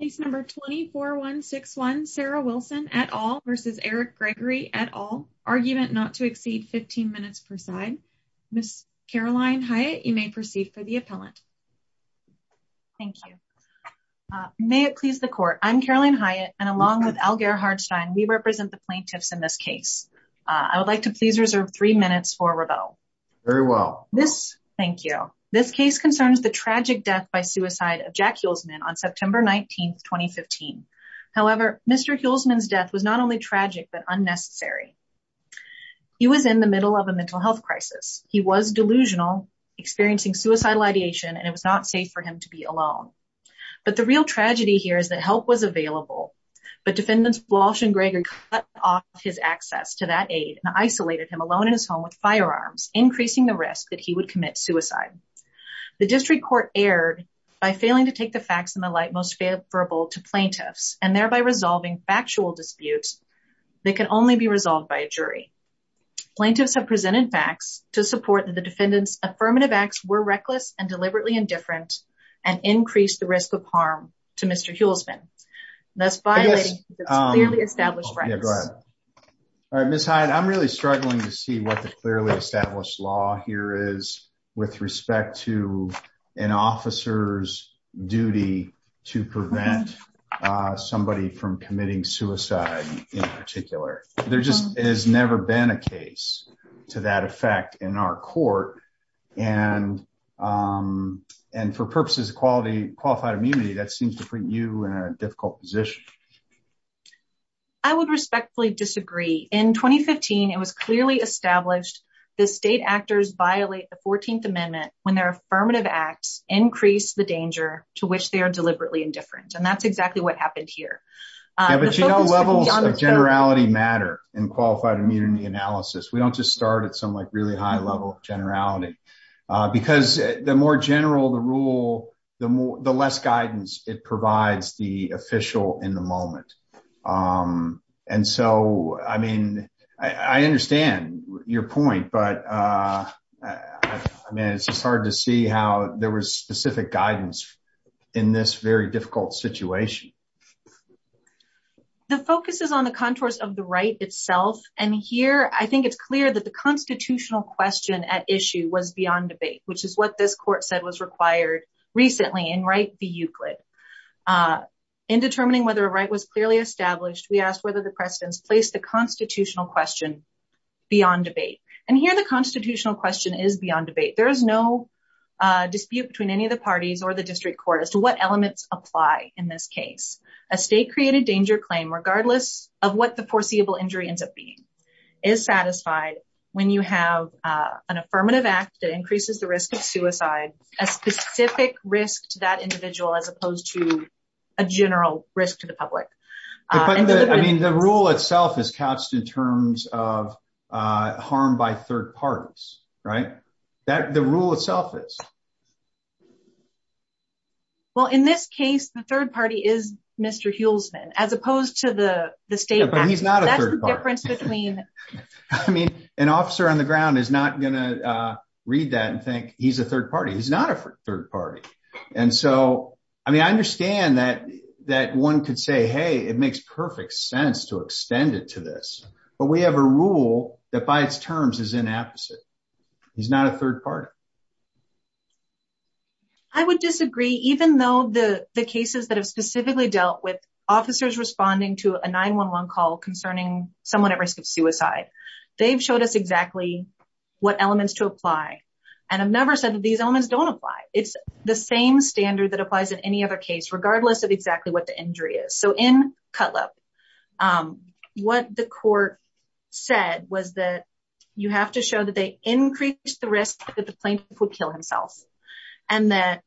Case number 24161 Sarah Wilson et al versus Eric Gregory et al argument not to exceed 15 minutes per side. Ms. Caroline Hyatt, you may proceed for the appellant. Thank you. May it please the court, I'm Caroline Hyatt and along with Algar Hardstein, we represent the plaintiffs in this case. I would like to please reserve three minutes for rebuttal. Very well. Thank you. This case concerns the tragic death by suicide of Jack Hulsman on September 19, 2015. However, Mr. Hulsman's death was not only tragic but unnecessary. He was in the middle of a mental health crisis. He was delusional experiencing suicidal ideation and it was not safe for him to be alone. But the real tragedy here is that help was available but defendants Walsh and Gregory cut off his access to that aid and isolated him alone in his home with firearms, increasing the risk that he would commit suicide. The district court erred by failing to take the facts in the light most favorable to plaintiffs and thereby resolving factual disputes that can only be resolved by a jury. Plaintiffs have presented facts to support that the defendants' affirmative acts were reckless and deliberately indifferent and increased the risk of harm to Mr. Hulsman, thus violating the clearly established practice. All right, Ms. Hyatt, I'm really struggling to see what the clearly established law here is with respect to an officer's duty to prevent somebody from committing suicide in particular. There just has never been a case to that effect in our court and for purposes of qualified immunity, that seems to put you in a difficult position. I would respectfully disagree. In 2015, it was clearly established the state actors violate the 14th amendment when their affirmative acts increase the danger to which they are deliberately indifferent and that's exactly what happened here. Yeah, but you know levels of generality matter in qualified immunity analysis. We don't just start at some like really high level of generality because the more general the rule, the less guidance it provides the official in the moment. And so, I mean, I understand your point, but I mean it's just hard to see how there was specific guidance in this very difficult situation. The focus is on the contours of the right itself and here I think it's clear that the constitutional question at issue was beyond debate, which is what this court said was required recently in Wright v. Euclid. In determining whether a right was clearly established, we asked whether the precedents placed the constitutional question beyond debate and here the constitutional question is beyond debate. There is no dispute between any of the parties or the district court as to what elements apply in this case. A state-created danger claim regardless of what the foreseeable injury ends is satisfied when you have an affirmative act that increases the risk of suicide, a specific risk to that individual as opposed to a general risk to the public. I mean the rule itself is couched in terms of harm by third parties, right? The rule itself is. Well, in this case, the third party is Mr. Hulsman as opposed to the state. But he's not a third party. I mean an officer on the ground is not going to read that and think he's a third party. He's not a third party and so I mean I understand that one could say, hey, it makes perfect sense to extend it to this, but we have a rule that by its terms is inapposite. He's not a third party. I would disagree even though the cases that have specifically dealt with officers responding to a 911 call concerning someone at risk of suicide, they've showed us exactly what elements to apply. And I've never said that these elements don't apply. It's the same standard that applies in any other case regardless of exactly what the injury is. So in Cutlip, what the court said was that you have to show that they increased the risk that the plaintiff would kill himself and that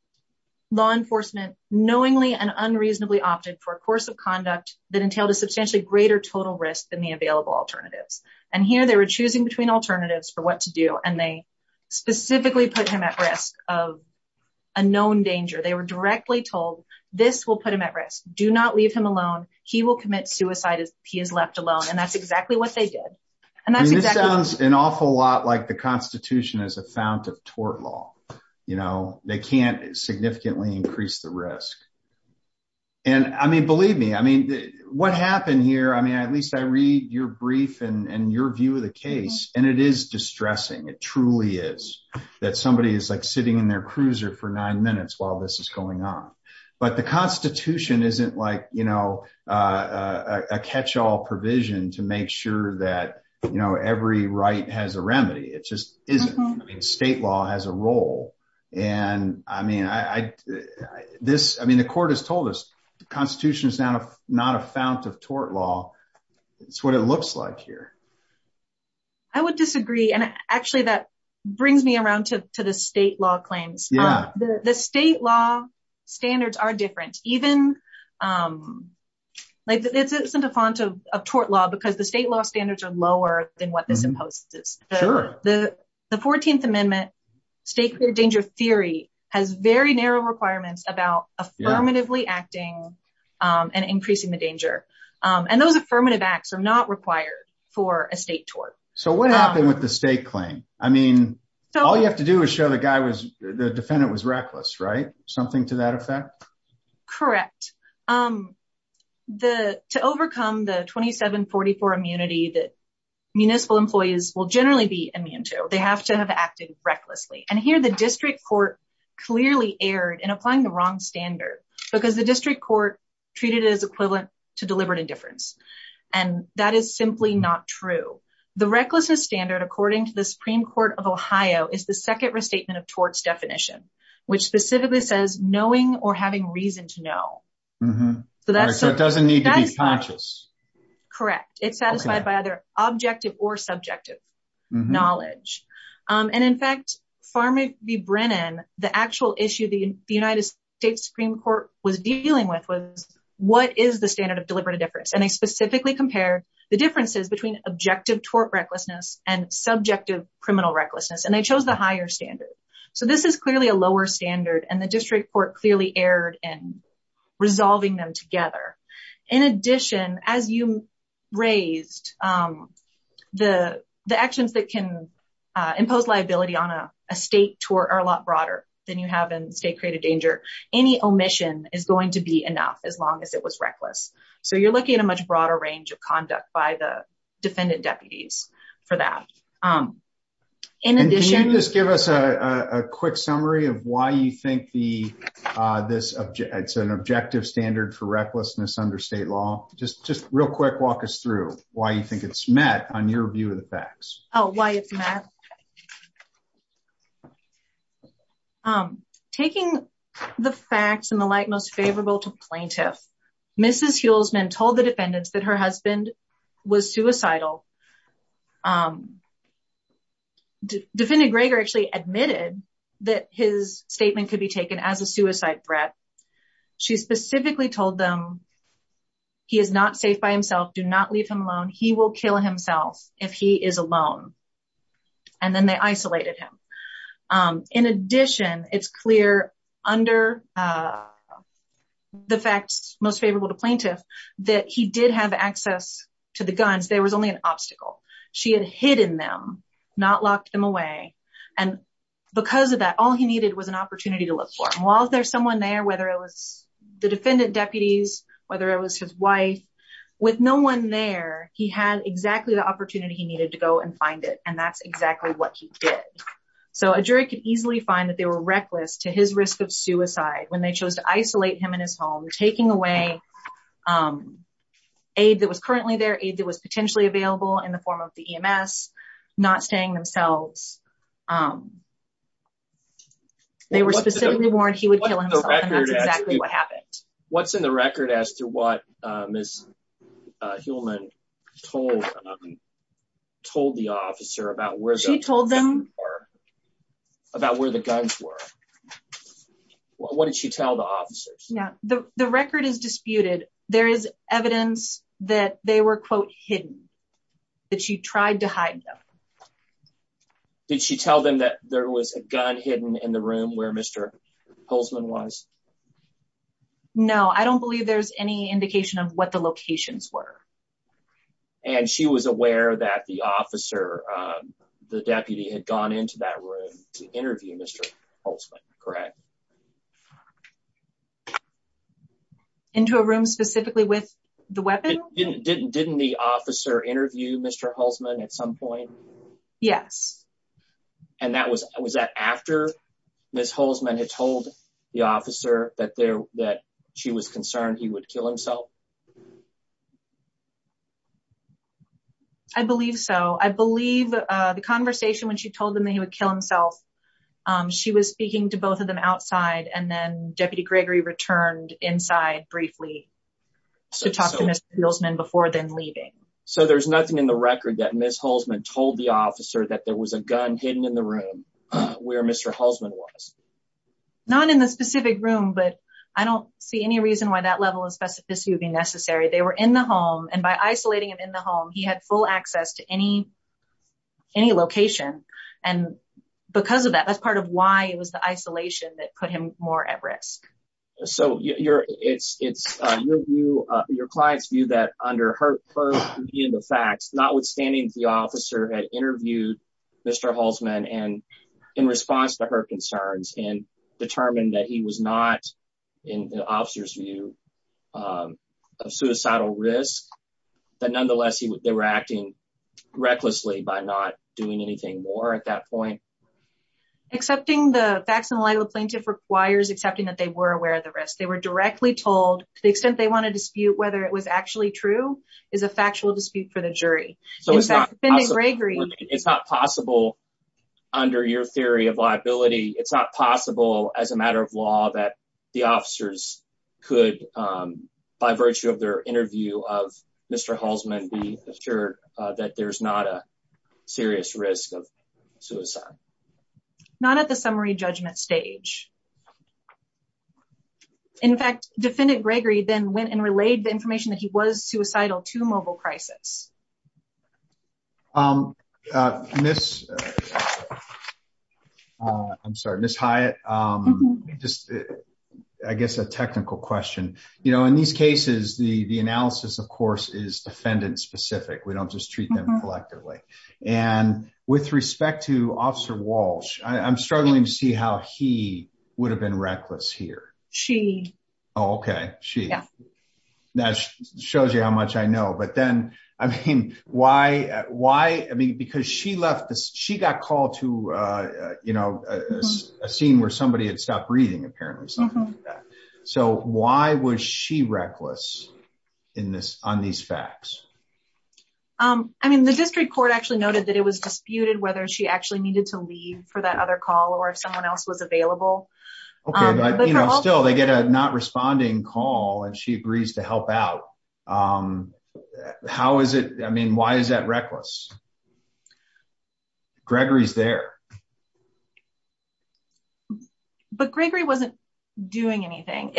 law enforcement knowingly and unreasonably opted for a course of conduct that entailed a substantially greater total risk than the available alternatives. And here they were choosing between alternatives for what to do and they specifically put him at risk of a known danger. They were directly told this will put him at risk. Do not leave him alone. He will commit suicide if he is left alone and that's exactly what they did. And this sounds an awful lot like the Constitution as a fount of tort law. They can't significantly increase the risk. And I mean, believe me, what happened here, I mean, at least I read your brief and your view of the case and it is distressing. It truly is that somebody is like sitting in their cruiser for nine minutes while this is going on. But the Constitution isn't like, you know, a catch-all provision to make sure that, you know, every right has a remedy. It just isn't. I mean, state law has a role. And I mean, the court has told us the Constitution is not a fount of tort law. It's what it looks like here. I would disagree. And actually that to the state law claims. The state law standards are different. Even like this isn't a fount of tort law because the state law standards are lower than what this imposes. The 14th Amendment state danger theory has very narrow requirements about affirmatively acting and increasing the danger. And those affirmative acts are not required for a state tort. So what happened with the state claim? I mean, all you have to do is show the guy was, the defendant was reckless, right? Something to that effect? Correct. To overcome the 2744 immunity that municipal employees will generally be immune to, they have to have acted recklessly. And here the district court clearly erred in applying the wrong standard because the district court treated it as equivalent to deliberate indifference. And that is simply not true. The recklessness standard, according to the Supreme Court of Ohio, is the second restatement of torts definition, which specifically says knowing or having reason to know. So that doesn't need to be conscious. Correct. It's satisfied by either objective or subjective knowledge. And in fact, Farmer v. Brennan, the actual issue the United States Supreme Court was dealing with was what is the standard of deliberate indifference? And they specifically compare the differences between objective tort recklessness and subjective criminal recklessness. And they chose the higher standard. So this is clearly a lower standard, and the district court clearly erred in resolving them together. In addition, as you raised, the actions that can impose liability on a state tort are a lot broader than you have in state danger. Any omission is going to be enough as long as it was reckless. So you're looking at a much broader range of conduct by the defendant deputies for that. Can you just give us a quick summary of why you think it's an objective standard for recklessness under state law? Just real quick, walk us through why you think it's met on your view of the facts. Oh, why it's the facts and the like most favorable to plaintiff. Mrs. Hulsman told the defendants that her husband was suicidal. Defendant Greger actually admitted that his statement could be taken as a suicide threat. She specifically told them, he is not safe by himself, do not leave him alone, he will kill himself if he is alone. And then they isolated him. In addition, it's clear under the facts most favorable to plaintiff, that he did have access to the guns, there was only an obstacle. She had hidden them, not locked them away. And because of that, all he needed was an opportunity to look for. And while there's someone there, whether it was the defendant deputies, whether it was his with no one there, he had exactly the opportunity he needed to go and find it. And that's exactly what he did. So a jury could easily find that they were reckless to his risk of suicide when they chose to isolate him in his home, taking away aid that was currently there, aid that was potentially available in the form of the EMS, not staying themselves. They were specifically warned that he would kill himself and that's exactly what happened. What's in the record as to what Ms. Hillman told the officer about where the guns were? What did she tell the officers? The record is disputed. There is evidence that they were quote, hidden, that she tried to hide them. Did she tell them that there was a gun hidden in the room where Mr. Holtzman was? No, I don't believe there's any indication of what the locations were. And she was aware that the officer, the deputy had gone into that room to interview Mr. Holtzman, correct? Into a room specifically with the weapon? Didn't the officer interview Mr. Holtzman at some point? Yes. And was that after Ms. Holtzman had told the officer that she was concerned he would kill himself? I believe so. I believe the conversation when she told him that he would kill himself, she was speaking to both of them outside and then Deputy Gregory returned inside briefly to talk to Mr. Holtzman before then leaving. So there's nothing in the record that Ms. Holtzman told the officer that there was a gun hidden in the room where Mr. Holtzman was? Not in the specific room, but I don't see any reason why that level of specificity would be necessary. They were in the home and by isolating him in the home, he had full access to any location. And because of that, that's part of why it was the isolation that put him more at risk. So it's your client's view that under her view of the facts, notwithstanding the officer had interviewed Mr. Holtzman in response to her concerns and determined that he was not, in the officer's view, of suicidal risk, that nonetheless they were acting recklessly by not doing anything more at that point? Accepting the facts in the light of the risk. They were directly told to the extent they want to dispute whether it was actually true is a factual dispute for the jury. So it's not possible under your theory of liability, it's not possible as a matter of law that the officers could, by virtue of their interview of Mr. Holtzman, be assured that there's not a serious risk of suicide. Not at the summary judgment stage. In fact, Defendant Gregory then went and relayed the information that he was suicidal to mobile crisis. I'm sorry, Ms. Hyatt, just I guess a technical question. You know, in these cases, the analysis, of course, is defendant specific. We don't just treat them collectively. And with respect to Officer Walsh, I'm struggling to see how he would have been reckless here. She. Okay, she. That shows you how much I know. But then, I mean, why, I mean, because she left, she got called to, you know, a scene where somebody had stopped breathing, apparently. So why was she reckless in this, on these facts? I mean, the district court actually noted that it was disputed whether she actually needed to leave for that other call, or if someone else was they get a not responding call, and she agrees to help out. How is it? I mean, why is that reckless? Gregory's there. But Gregory wasn't doing anything.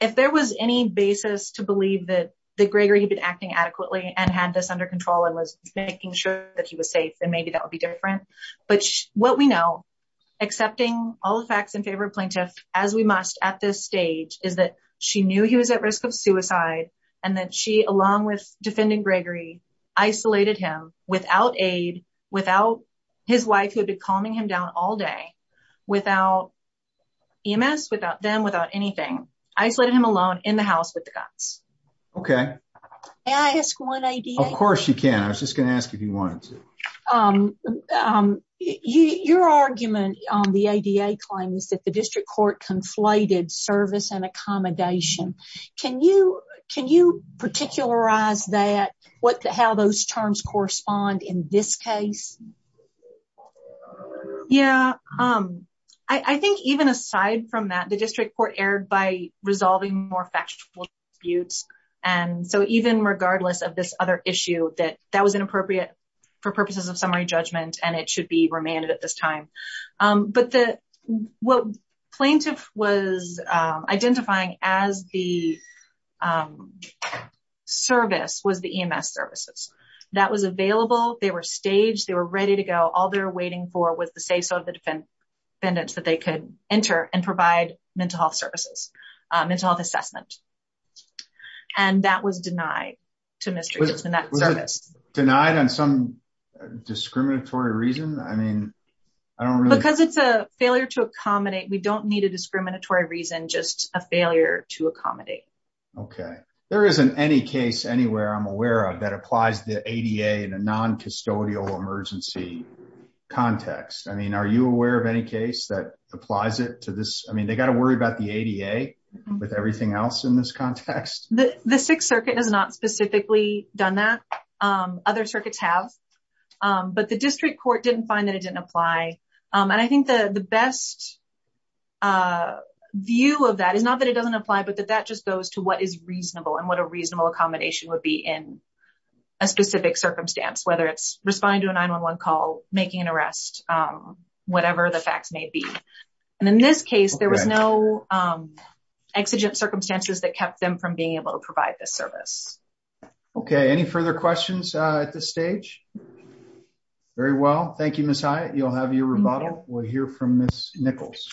If there was any basis to believe that Gregory had been acting adequately and had this under control and was making sure that he was safe, then maybe that would be different. But what we know, accepting all the facts in favor of plaintiff, as we must, at this stage, is that she knew he was at risk of suicide, and that she, along with defending Gregory, isolated him without aid, without his wife, who had been calming him down all day, without EMS, without them, without anything. Isolated him alone in the house with the guns. Okay. May I ask one idea? Of course you can. I was just going to ask if you wanted to. Your argument on the ADA claims that the district court conflated service and accommodation. Can you particularize that? How those terms correspond in this case? Yeah. I think even aside from that, the district court erred by resolving more factual disputes. So even regardless of this other issue, that that was inappropriate for purposes of summary judgment, and it should be remanded at this time. But what plaintiff was identifying as the service was the EMS services. That was available. They were staged. They were ready to go. All they're waiting for was the say-so of the defendants that they could enter and provide mental health services, mental health assessment. And that was denied to Mr. Was it denied on some discriminatory reason? Because it's a failure to accommodate, we don't need a discriminatory reason, just a failure to accommodate. Okay. There isn't any case anywhere I'm aware of that applies the ADA in a non-custodial emergency context. I mean, are you aware of any case that applies it to this? I mean, they got to worry about the ADA with everything else in this context. The Sixth Circuit has not specifically done that. Other circuits have. But the district court didn't find that it didn't apply. And I think the best view of that is not that it doesn't apply, but that that just goes to what is reasonable and what a reasonable accommodation would be in a specific circumstance, whether it's responding to a 911 call, making an arrest, whatever the facts may be. And in this case, there was no exigent circumstances that kept them from being able to provide this service. Okay. Any further questions at this stage? Very well. Thank you, Ms. Hyatt. You'll have your rebuttal. We'll hear from Ms. Nichols.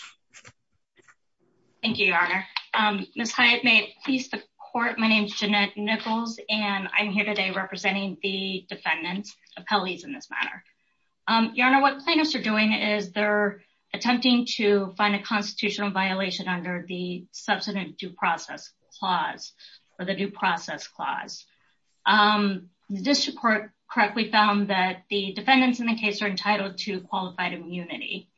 Thank you, Your Honor. Ms. Hyatt, may it please the court. My name is Jeanette Nichols, and I'm here today representing the defendants, appellees in this matter. Your Honor, what plaintiffs are doing is they're attempting to find a constitutional violation under the Substantive Due Process Clause or the Due Process Clause. The district court correctly found that the defendants in the case are entitled to qualified immunity.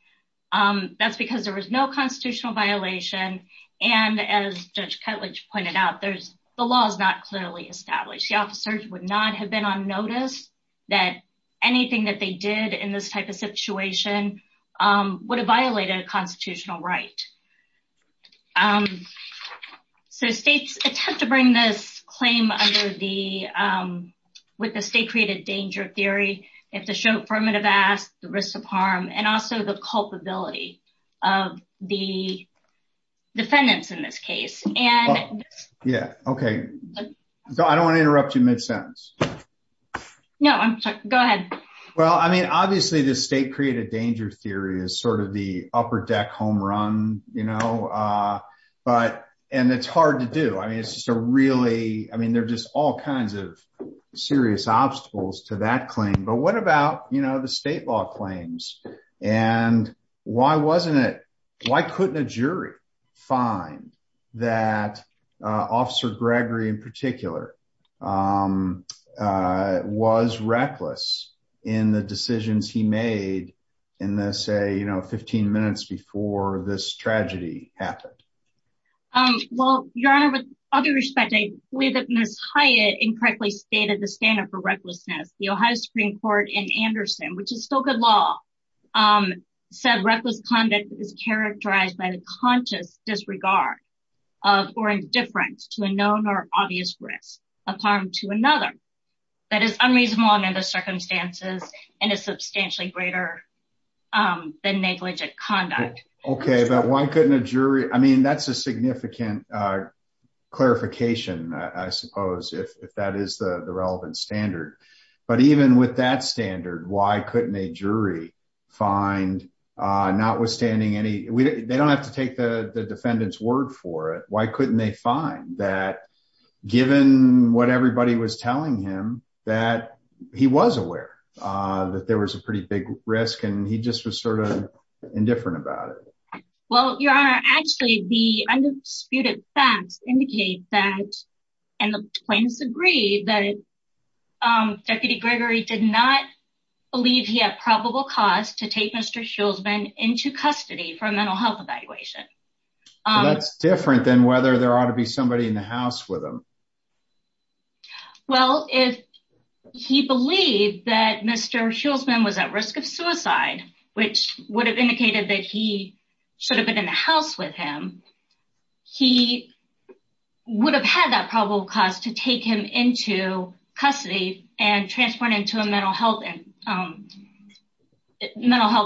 That's because there was no constitutional violation. And as Judge Ketledge pointed out, the law is not clearly established. The officers would not have been on notice that anything that they did in this type of situation would have violated a constitutional right. So states attempt to bring this claim under the state-created danger theory. They have to show affirmative acts, the risk of harm, and also the culpability of the defendants in this case. I don't want to interrupt you mid-sentence. Go ahead. Obviously, the state-created danger theory is sort of the upper-deck home run, and it's hard to do. I mean, there are just all kinds of serious obstacles to that claim. But what about the state law claims? And why couldn't a jury find that Officer Gregory in particular was reckless in the decisions he made in the, say, you know, 15 minutes before this tragedy happened? Well, Your Honor, with all due respect, I believe that Ms. Hyatt incorrectly stated the standard for recklessness. The Ohio Supreme Court in Anderson, which is still good law, said reckless conduct is characterized by the conscious disregard or indifference to a known or obvious risk of harm to another that is unreasonable under the circumstances and is substantially greater than negligent conduct. Okay, but why couldn't a jury? I mean, that's a significant clarification, I suppose, if that is the standard. Why couldn't a jury find, notwithstanding any... They don't have to take the defendant's word for it. Why couldn't they find that, given what everybody was telling him, that he was aware that there was a pretty big risk and he just was sort of indifferent about it? Well, Your Honor, actually, the undisputed facts indicate that, and the plaintiffs agree, that Deputy Gregory did not believe he had probable cause to take Mr. Schultzman into custody for a mental health evaluation. That's different than whether there ought to be somebody in the house with him. Well, if he believed that Mr. Schultzman was at risk of suicide, which would have indicated that he should have been in the house with him, he would have had that probable cause to take him into custody and transport him to a mental health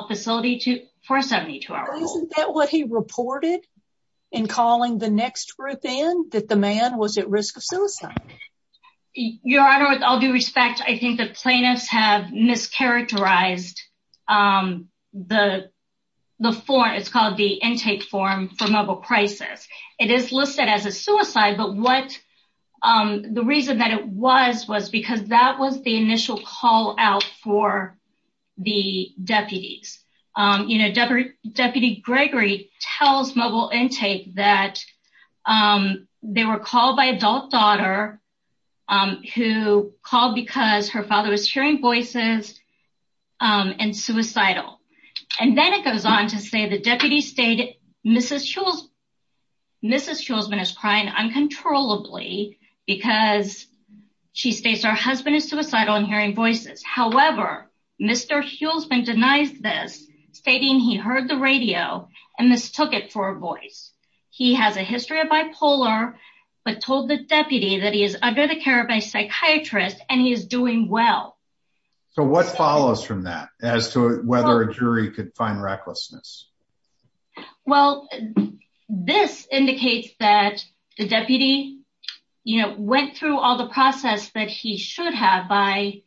facility for a 72-hour hold. Isn't that what he reported in calling the next group in, that the man was at risk of suicide? Your Honor, with all respect, I think the plaintiffs have mischaracterized the form. It's called the intake form for mobile crisis. It is listed as a suicide, but the reason that it was, was because that was the initial call out for the deputies. Deputy Gregory tells Mobile Intake that they were called by an adult daughter who called because her father was hearing voices and suicidal. And then it goes on to say the deputy stated Mrs. Schultzman is crying uncontrollably because she states her husband is suicidal and hearing voices. However, Mr. Schultzman denies this, stating he heard the radio and mistook it for a voice. He has a history of bipolar, but told the deputy that he is under the care of a psychiatrist and he is doing well. So what follows from that as to whether a jury could find recklessness? Well, this indicates that the deputy, you know, went through all the process that he should have by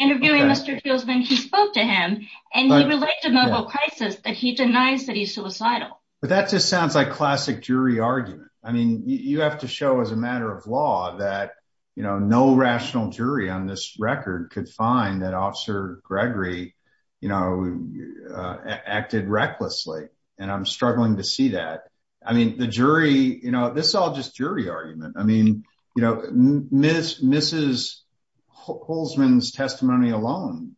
interviewing Mr. Schultzman. He spoke to him and he related to mobile crisis that he denies that But that just sounds like classic jury argument. I mean, you have to show as a matter of law that, you know, no rational jury on this record could find that Officer Gregory, you know, acted recklessly. And I'm struggling to see that. I mean, the jury, you know, this is all just jury argument. I mean, you know, Mrs. Schultzman's testimony alone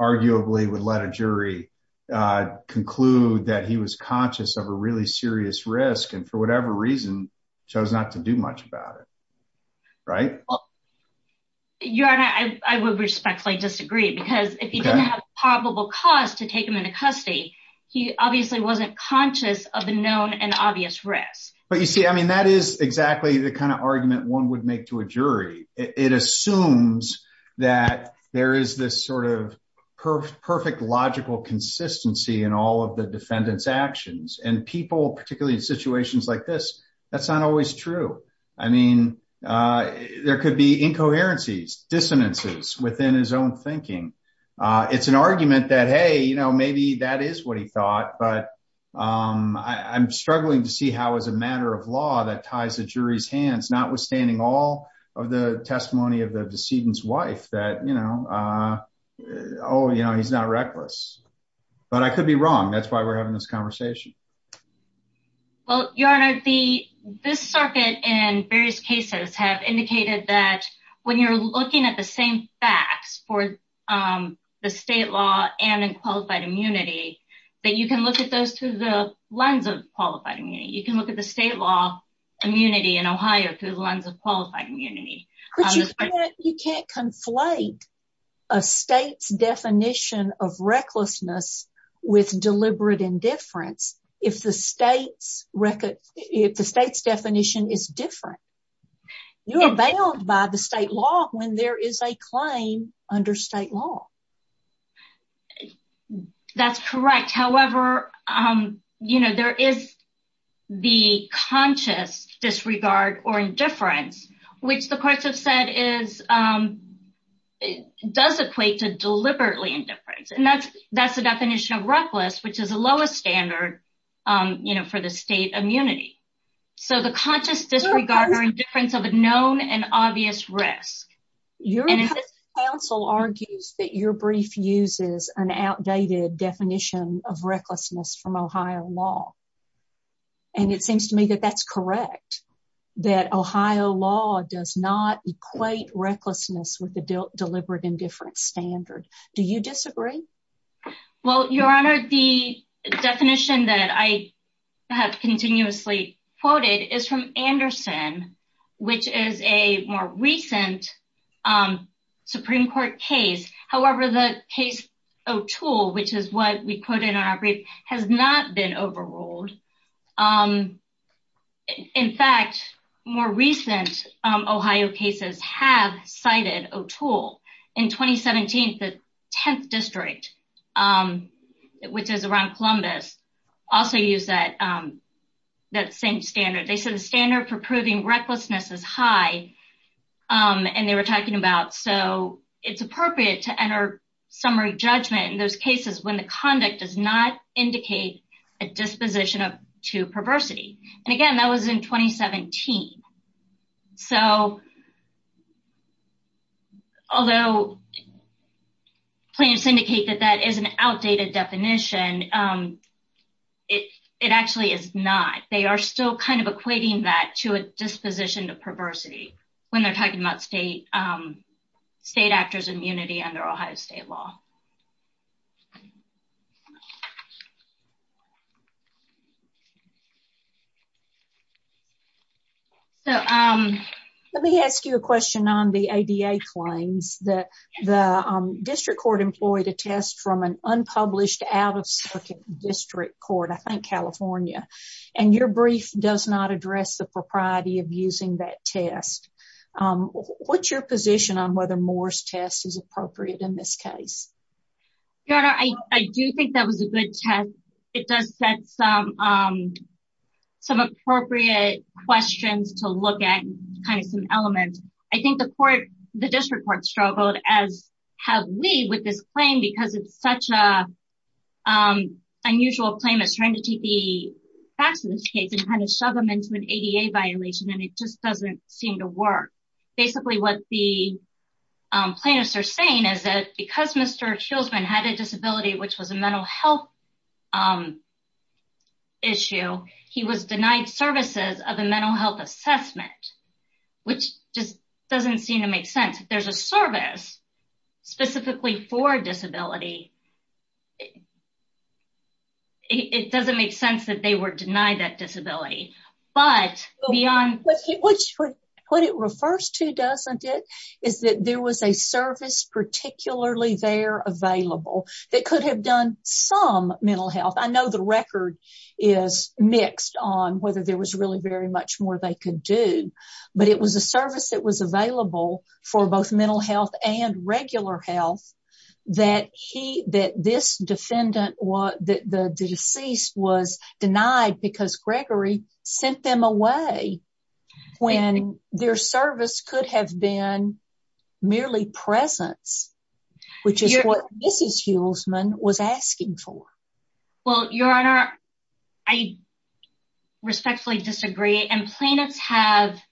arguably would let jury conclude that he was conscious of a really serious risk and for whatever reason, chose not to do much about it. Right? Your Honor, I would respectfully disagree because if he didn't have probable cause to take him into custody, he obviously wasn't conscious of the known and obvious risks. But you see, I mean, that is exactly the kind of argument one would make to a jury. It assumes that there is this sort of perfect logical consistency in all of the defendant's actions and people, particularly in situations like this, that's not always true. I mean, there could be incoherencies, dissonances within his own thinking. It's an argument that, hey, you know, maybe that is what he thought. But I'm struggling to see how, as a matter of law, that ties the jury's hands, notwithstanding all of the testimony of the decedent's wife, that, you know, oh, you know, he's not reckless. But I could be wrong. That's why we're having this conversation. Well, Your Honor, this circuit and various cases have indicated that when you're looking at the same facts for the state law and in qualified immunity, that you can look at those through the lens of qualified immunity. You can look at the state law immunity in Ohio through the lens of qualified immunity. But you can't conflate a state's definition of recklessness with deliberate indifference if the state's definition is different. You are bound by the state law when there is a claim under state law. That's correct. However, you know, there is the conscious disregard or indifference, which the courts have said is, does equate to deliberately indifference. And that's, that's the definition of reckless, which is the lowest standard, you know, for the state immunity. So the conscious disregard or indifference of a known and obvious risk. Your counsel argues that your brief uses an outdated definition of recklessness from Ohio law. And it seems to me that that's correct, that Ohio law does not equate recklessness with the deliberate indifference standard. Do you disagree? Well, Your Honor, the definition that I have continuously quoted is from Anderson, which is a more recent Supreme Court case. However, the case O'Toole, which is what we put in our brief, has not been overruled. In fact, more recent Ohio cases have cited O'Toole. In 2017, the 10th district, which is around Columbus, also used that same standard. They said the standard for proving recklessness is high. And they were talking about, so it's appropriate to enter summary judgment in those cases when the conduct does not indicate a disposition to perversity. And again, that was in an outdated definition. It actually is not. They are still kind of equating that to a disposition to perversity when they're talking about state actors immunity under Ohio state law. So let me ask you a question on the ADA claims that the district court employed a test from an unpublished out of circuit district court, I think California, and your brief does not address the propriety of using that test. What's your position on whether Moore's test is appropriate in this case? I do think that was a good test. It does set some appropriate questions to look at, kind of some elements. I think the court, the district court struggled as have we with this claim because it's such a unusual claim is trying to take the facts of this case and kind of shove them into an ADA violation. And it just doesn't seem to work. Basically what the plaintiffs are saying is that because Mr. Schultzman had a disability, which was a mental health issue, he was denied services of a mental health assessment, which just doesn't seem to make sense. There's a service specifically for disability. It doesn't make sense that they were denied that disability, but beyond... they're available. They could have done some mental health. I know the record is mixed on whether there was really very much more they could do, but it was a service that was available for both mental health and regular health that this defendant, the deceased was denied because Gregory sent them away when their service could have been merely presence, which is what Mrs. Schultzman was asking for. Well, Your Honor, I respectfully disagree and plaintiffs have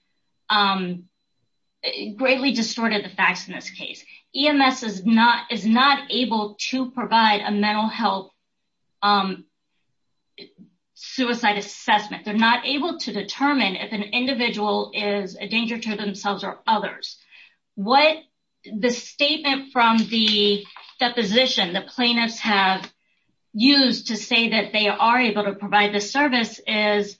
greatly distorted the facts in this case. EMS is not able to provide a mental health suicide assessment. They're not able to determine if an individual is a danger to themselves or others. What the statement from the deposition the plaintiffs have used to say that they are able to provide the service is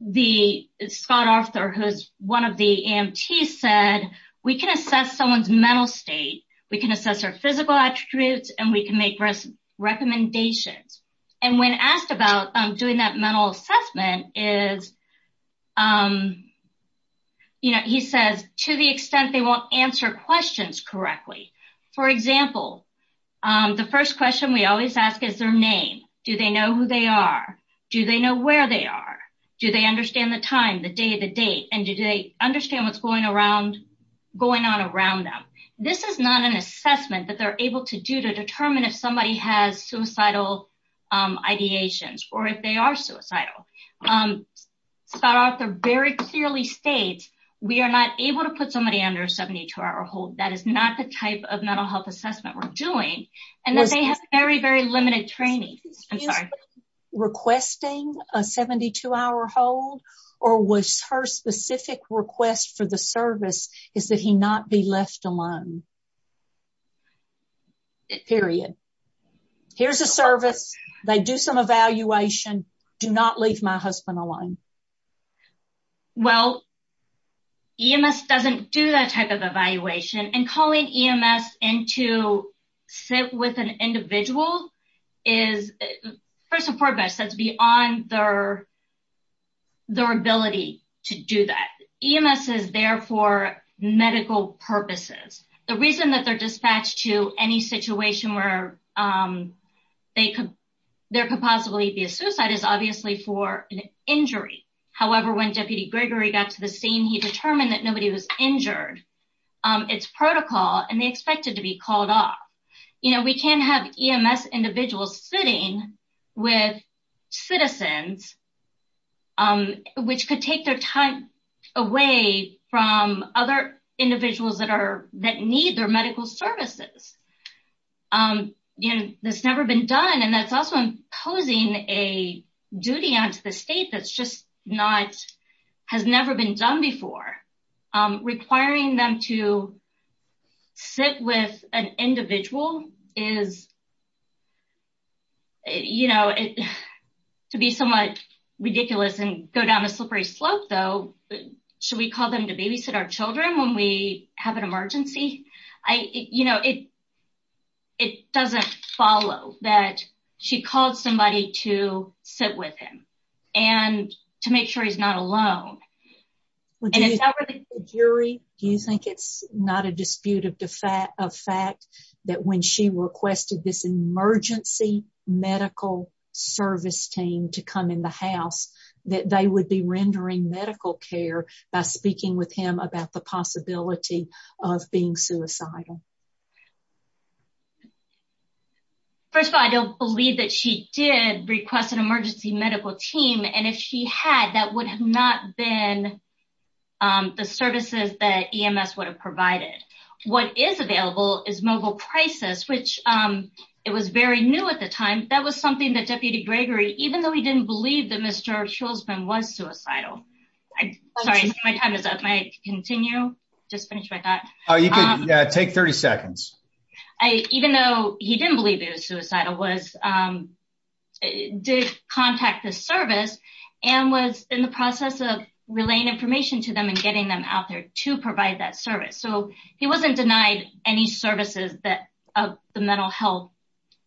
the Scott Arthur, who's one of the EMTs said, we can assess someone's mental state. We can assess their physical attributes and we can make recommendations. And when asked about doing that mental assessment, he says, to the extent they won't answer questions correctly. For example, the first question we always ask is their name. Do they know who they are? Do they know where they are? Do they understand the time, the day, the date? And do they understand what's going on around them? This is not an assessment that they're able to do to determine if somebody has suicidal ideations or if they are suicidal. Scott Arthur very clearly states we are not able to put somebody under a 72-hour hold. That is not the type of mental health assessment we're doing. And that they have very, very limited training. I'm sorry. Requesting a 72-hour hold or was her specific request for the service is that he not be left alone. Period. Here's a service. They do some evaluation. Do not leave my husband alone. Well, EMS doesn't do that type of evaluation. And calling EMS in to sit with an individual is beyond their ability to do that. EMS is there for medical purposes. The reason that they're dispatched to any situation where there could possibly be a suicide is obviously for an injury. However, when Deputy Gregory got to the scene, he determined that nobody was injured. It's protocol. And they expected to be called off. We can't have EMS individuals sitting with citizens which could take their time away from other individuals that need their medical services. That's never been done. And that's also imposing a duty on to the state that's just not has never been done before. Requiring them to sit with an individual is, you know, to be somewhat ridiculous and go down a slippery slope, though. Should we call them to babysit our children when we have an emergency? It doesn't follow that she called somebody to sit with him and to make sure he's not alone. Do you think it's not a dispute of fact that when she requested this emergency medical service team to come in the house that they would be rendering medical care by speaking with him about the possibility of being suicidal? First of all, I don't believe that she did request an emergency medical team. And if she had, that would have not been the services that EMS would have provided. What is available is mobile crisis, which it was very new at the time. That was something that Deputy Gregory, even though he didn't believe that Mr. Schultzman was suicidal. I'm sorry, my time is up. May I continue? I just finished my thought. You can take 30 seconds. Even though he didn't believe it was suicidal, he did contact the service and was in the process of relaying information to them and getting them out there to provide that service. So he wasn't denied any services of the mental health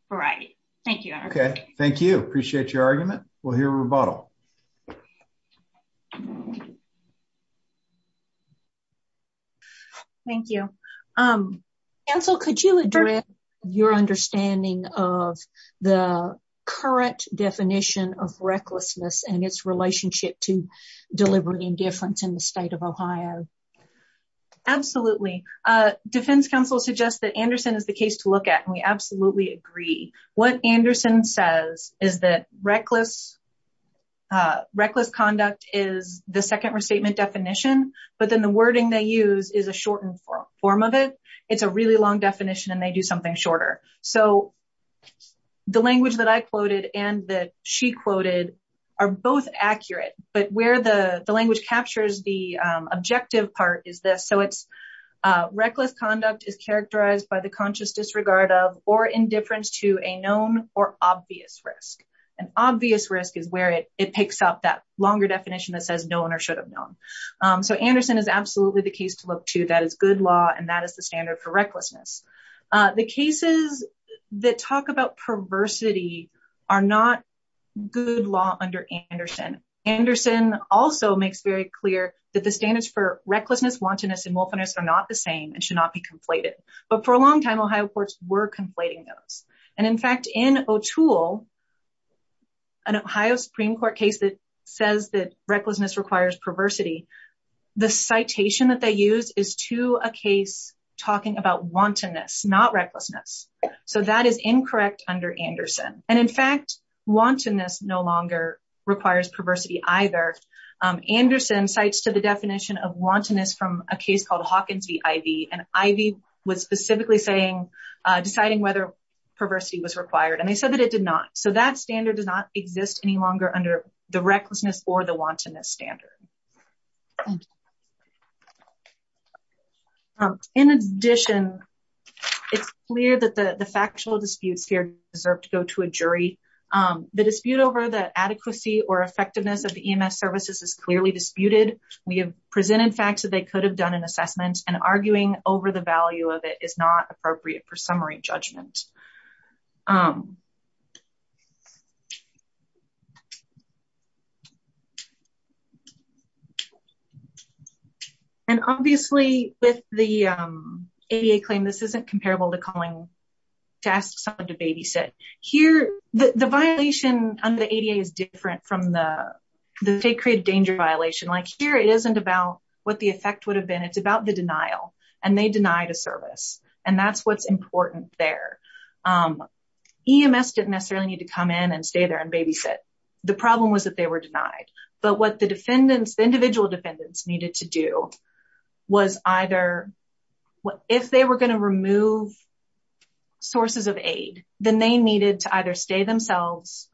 variety. Thank you. Okay, thank you. Appreciate your argument. We'll hear a rebuttal. Thank you. Counsel, could you address your understanding of the current definition of recklessness and its relationship to deliberate indifference in the state of Ohio? Absolutely. Defense counsel suggests that Anderson is the case to look at, and we absolutely agree. What Anderson says is that reckless conduct is the second restatement definition, but then the wording they use is a shortened form of it. It's a really long definition, and they do something shorter. So the language that I quoted and that she quoted are both accurate, but where the language captures the objective part is this. So it's reckless conduct is characterized by the conscious disregard of or indifference to a known or obvious risk. An obvious risk is where it picks up that longer definition that says known or unknown. So Anderson is absolutely the case to look to. That is good law, and that is the standard for recklessness. The cases that talk about perversity are not good law under Anderson. Anderson also makes very clear that the standards for recklessness, wantonness, and wolfiness are not the same and should not be conflated. But for a long time, Ohio courts were conflating those. In fact, in O'Toole, an Ohio Supreme Court case that says that recklessness requires perversity, the citation that they use is to a case talking about wantonness, not recklessness. So that is incorrect under Anderson. In fact, wantonness no longer requires perversity either. Anderson cites to the definition of wantonness from a case called Hawkins v. Ivey, and Ivey was specifically saying, deciding whether perversity was required, and they said that it did not. So that standard does not exist any longer under the recklessness or the wantonness standard. In addition, it is clear that the factual disputes here deserve to go to a jury. The dispute over the adequacy or effectiveness of the EMS services is clearly disputed. We have presented facts that they could have done an assessment and arguing over the value of it is not appropriate for summary judgment. And obviously, with the ADA claim, this isn't comparable to calling to ask someone to babysit. Here, the violation under the ADA is different from the state created danger violation. Here, it isn't about what the effect would have been, it's about the denial, and they denied a service. And that's what's important there. EMS didn't necessarily need to come in and stay there and babysit. The problem was that they were denied. But what the defendants, the individual defendants needed to do was either, if they were to remove sources of aid, then they needed to either stay themselves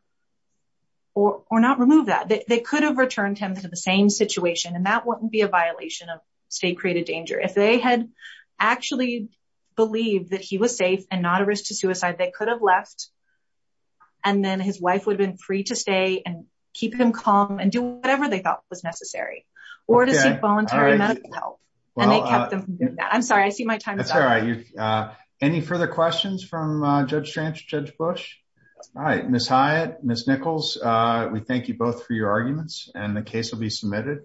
or not remove that. They could have returned him to the same situation and that wouldn't be a violation of state created danger. If they had actually believed that he was safe and not a risk to suicide, they could have left and then his wife would have been free to stay and keep him calm and do whatever they thought was right. Any further questions from Judge Strantz, Judge Bush? All right, Ms. Hyatt, Ms. Nichols, we thank you both for your arguments and the case will be submitted.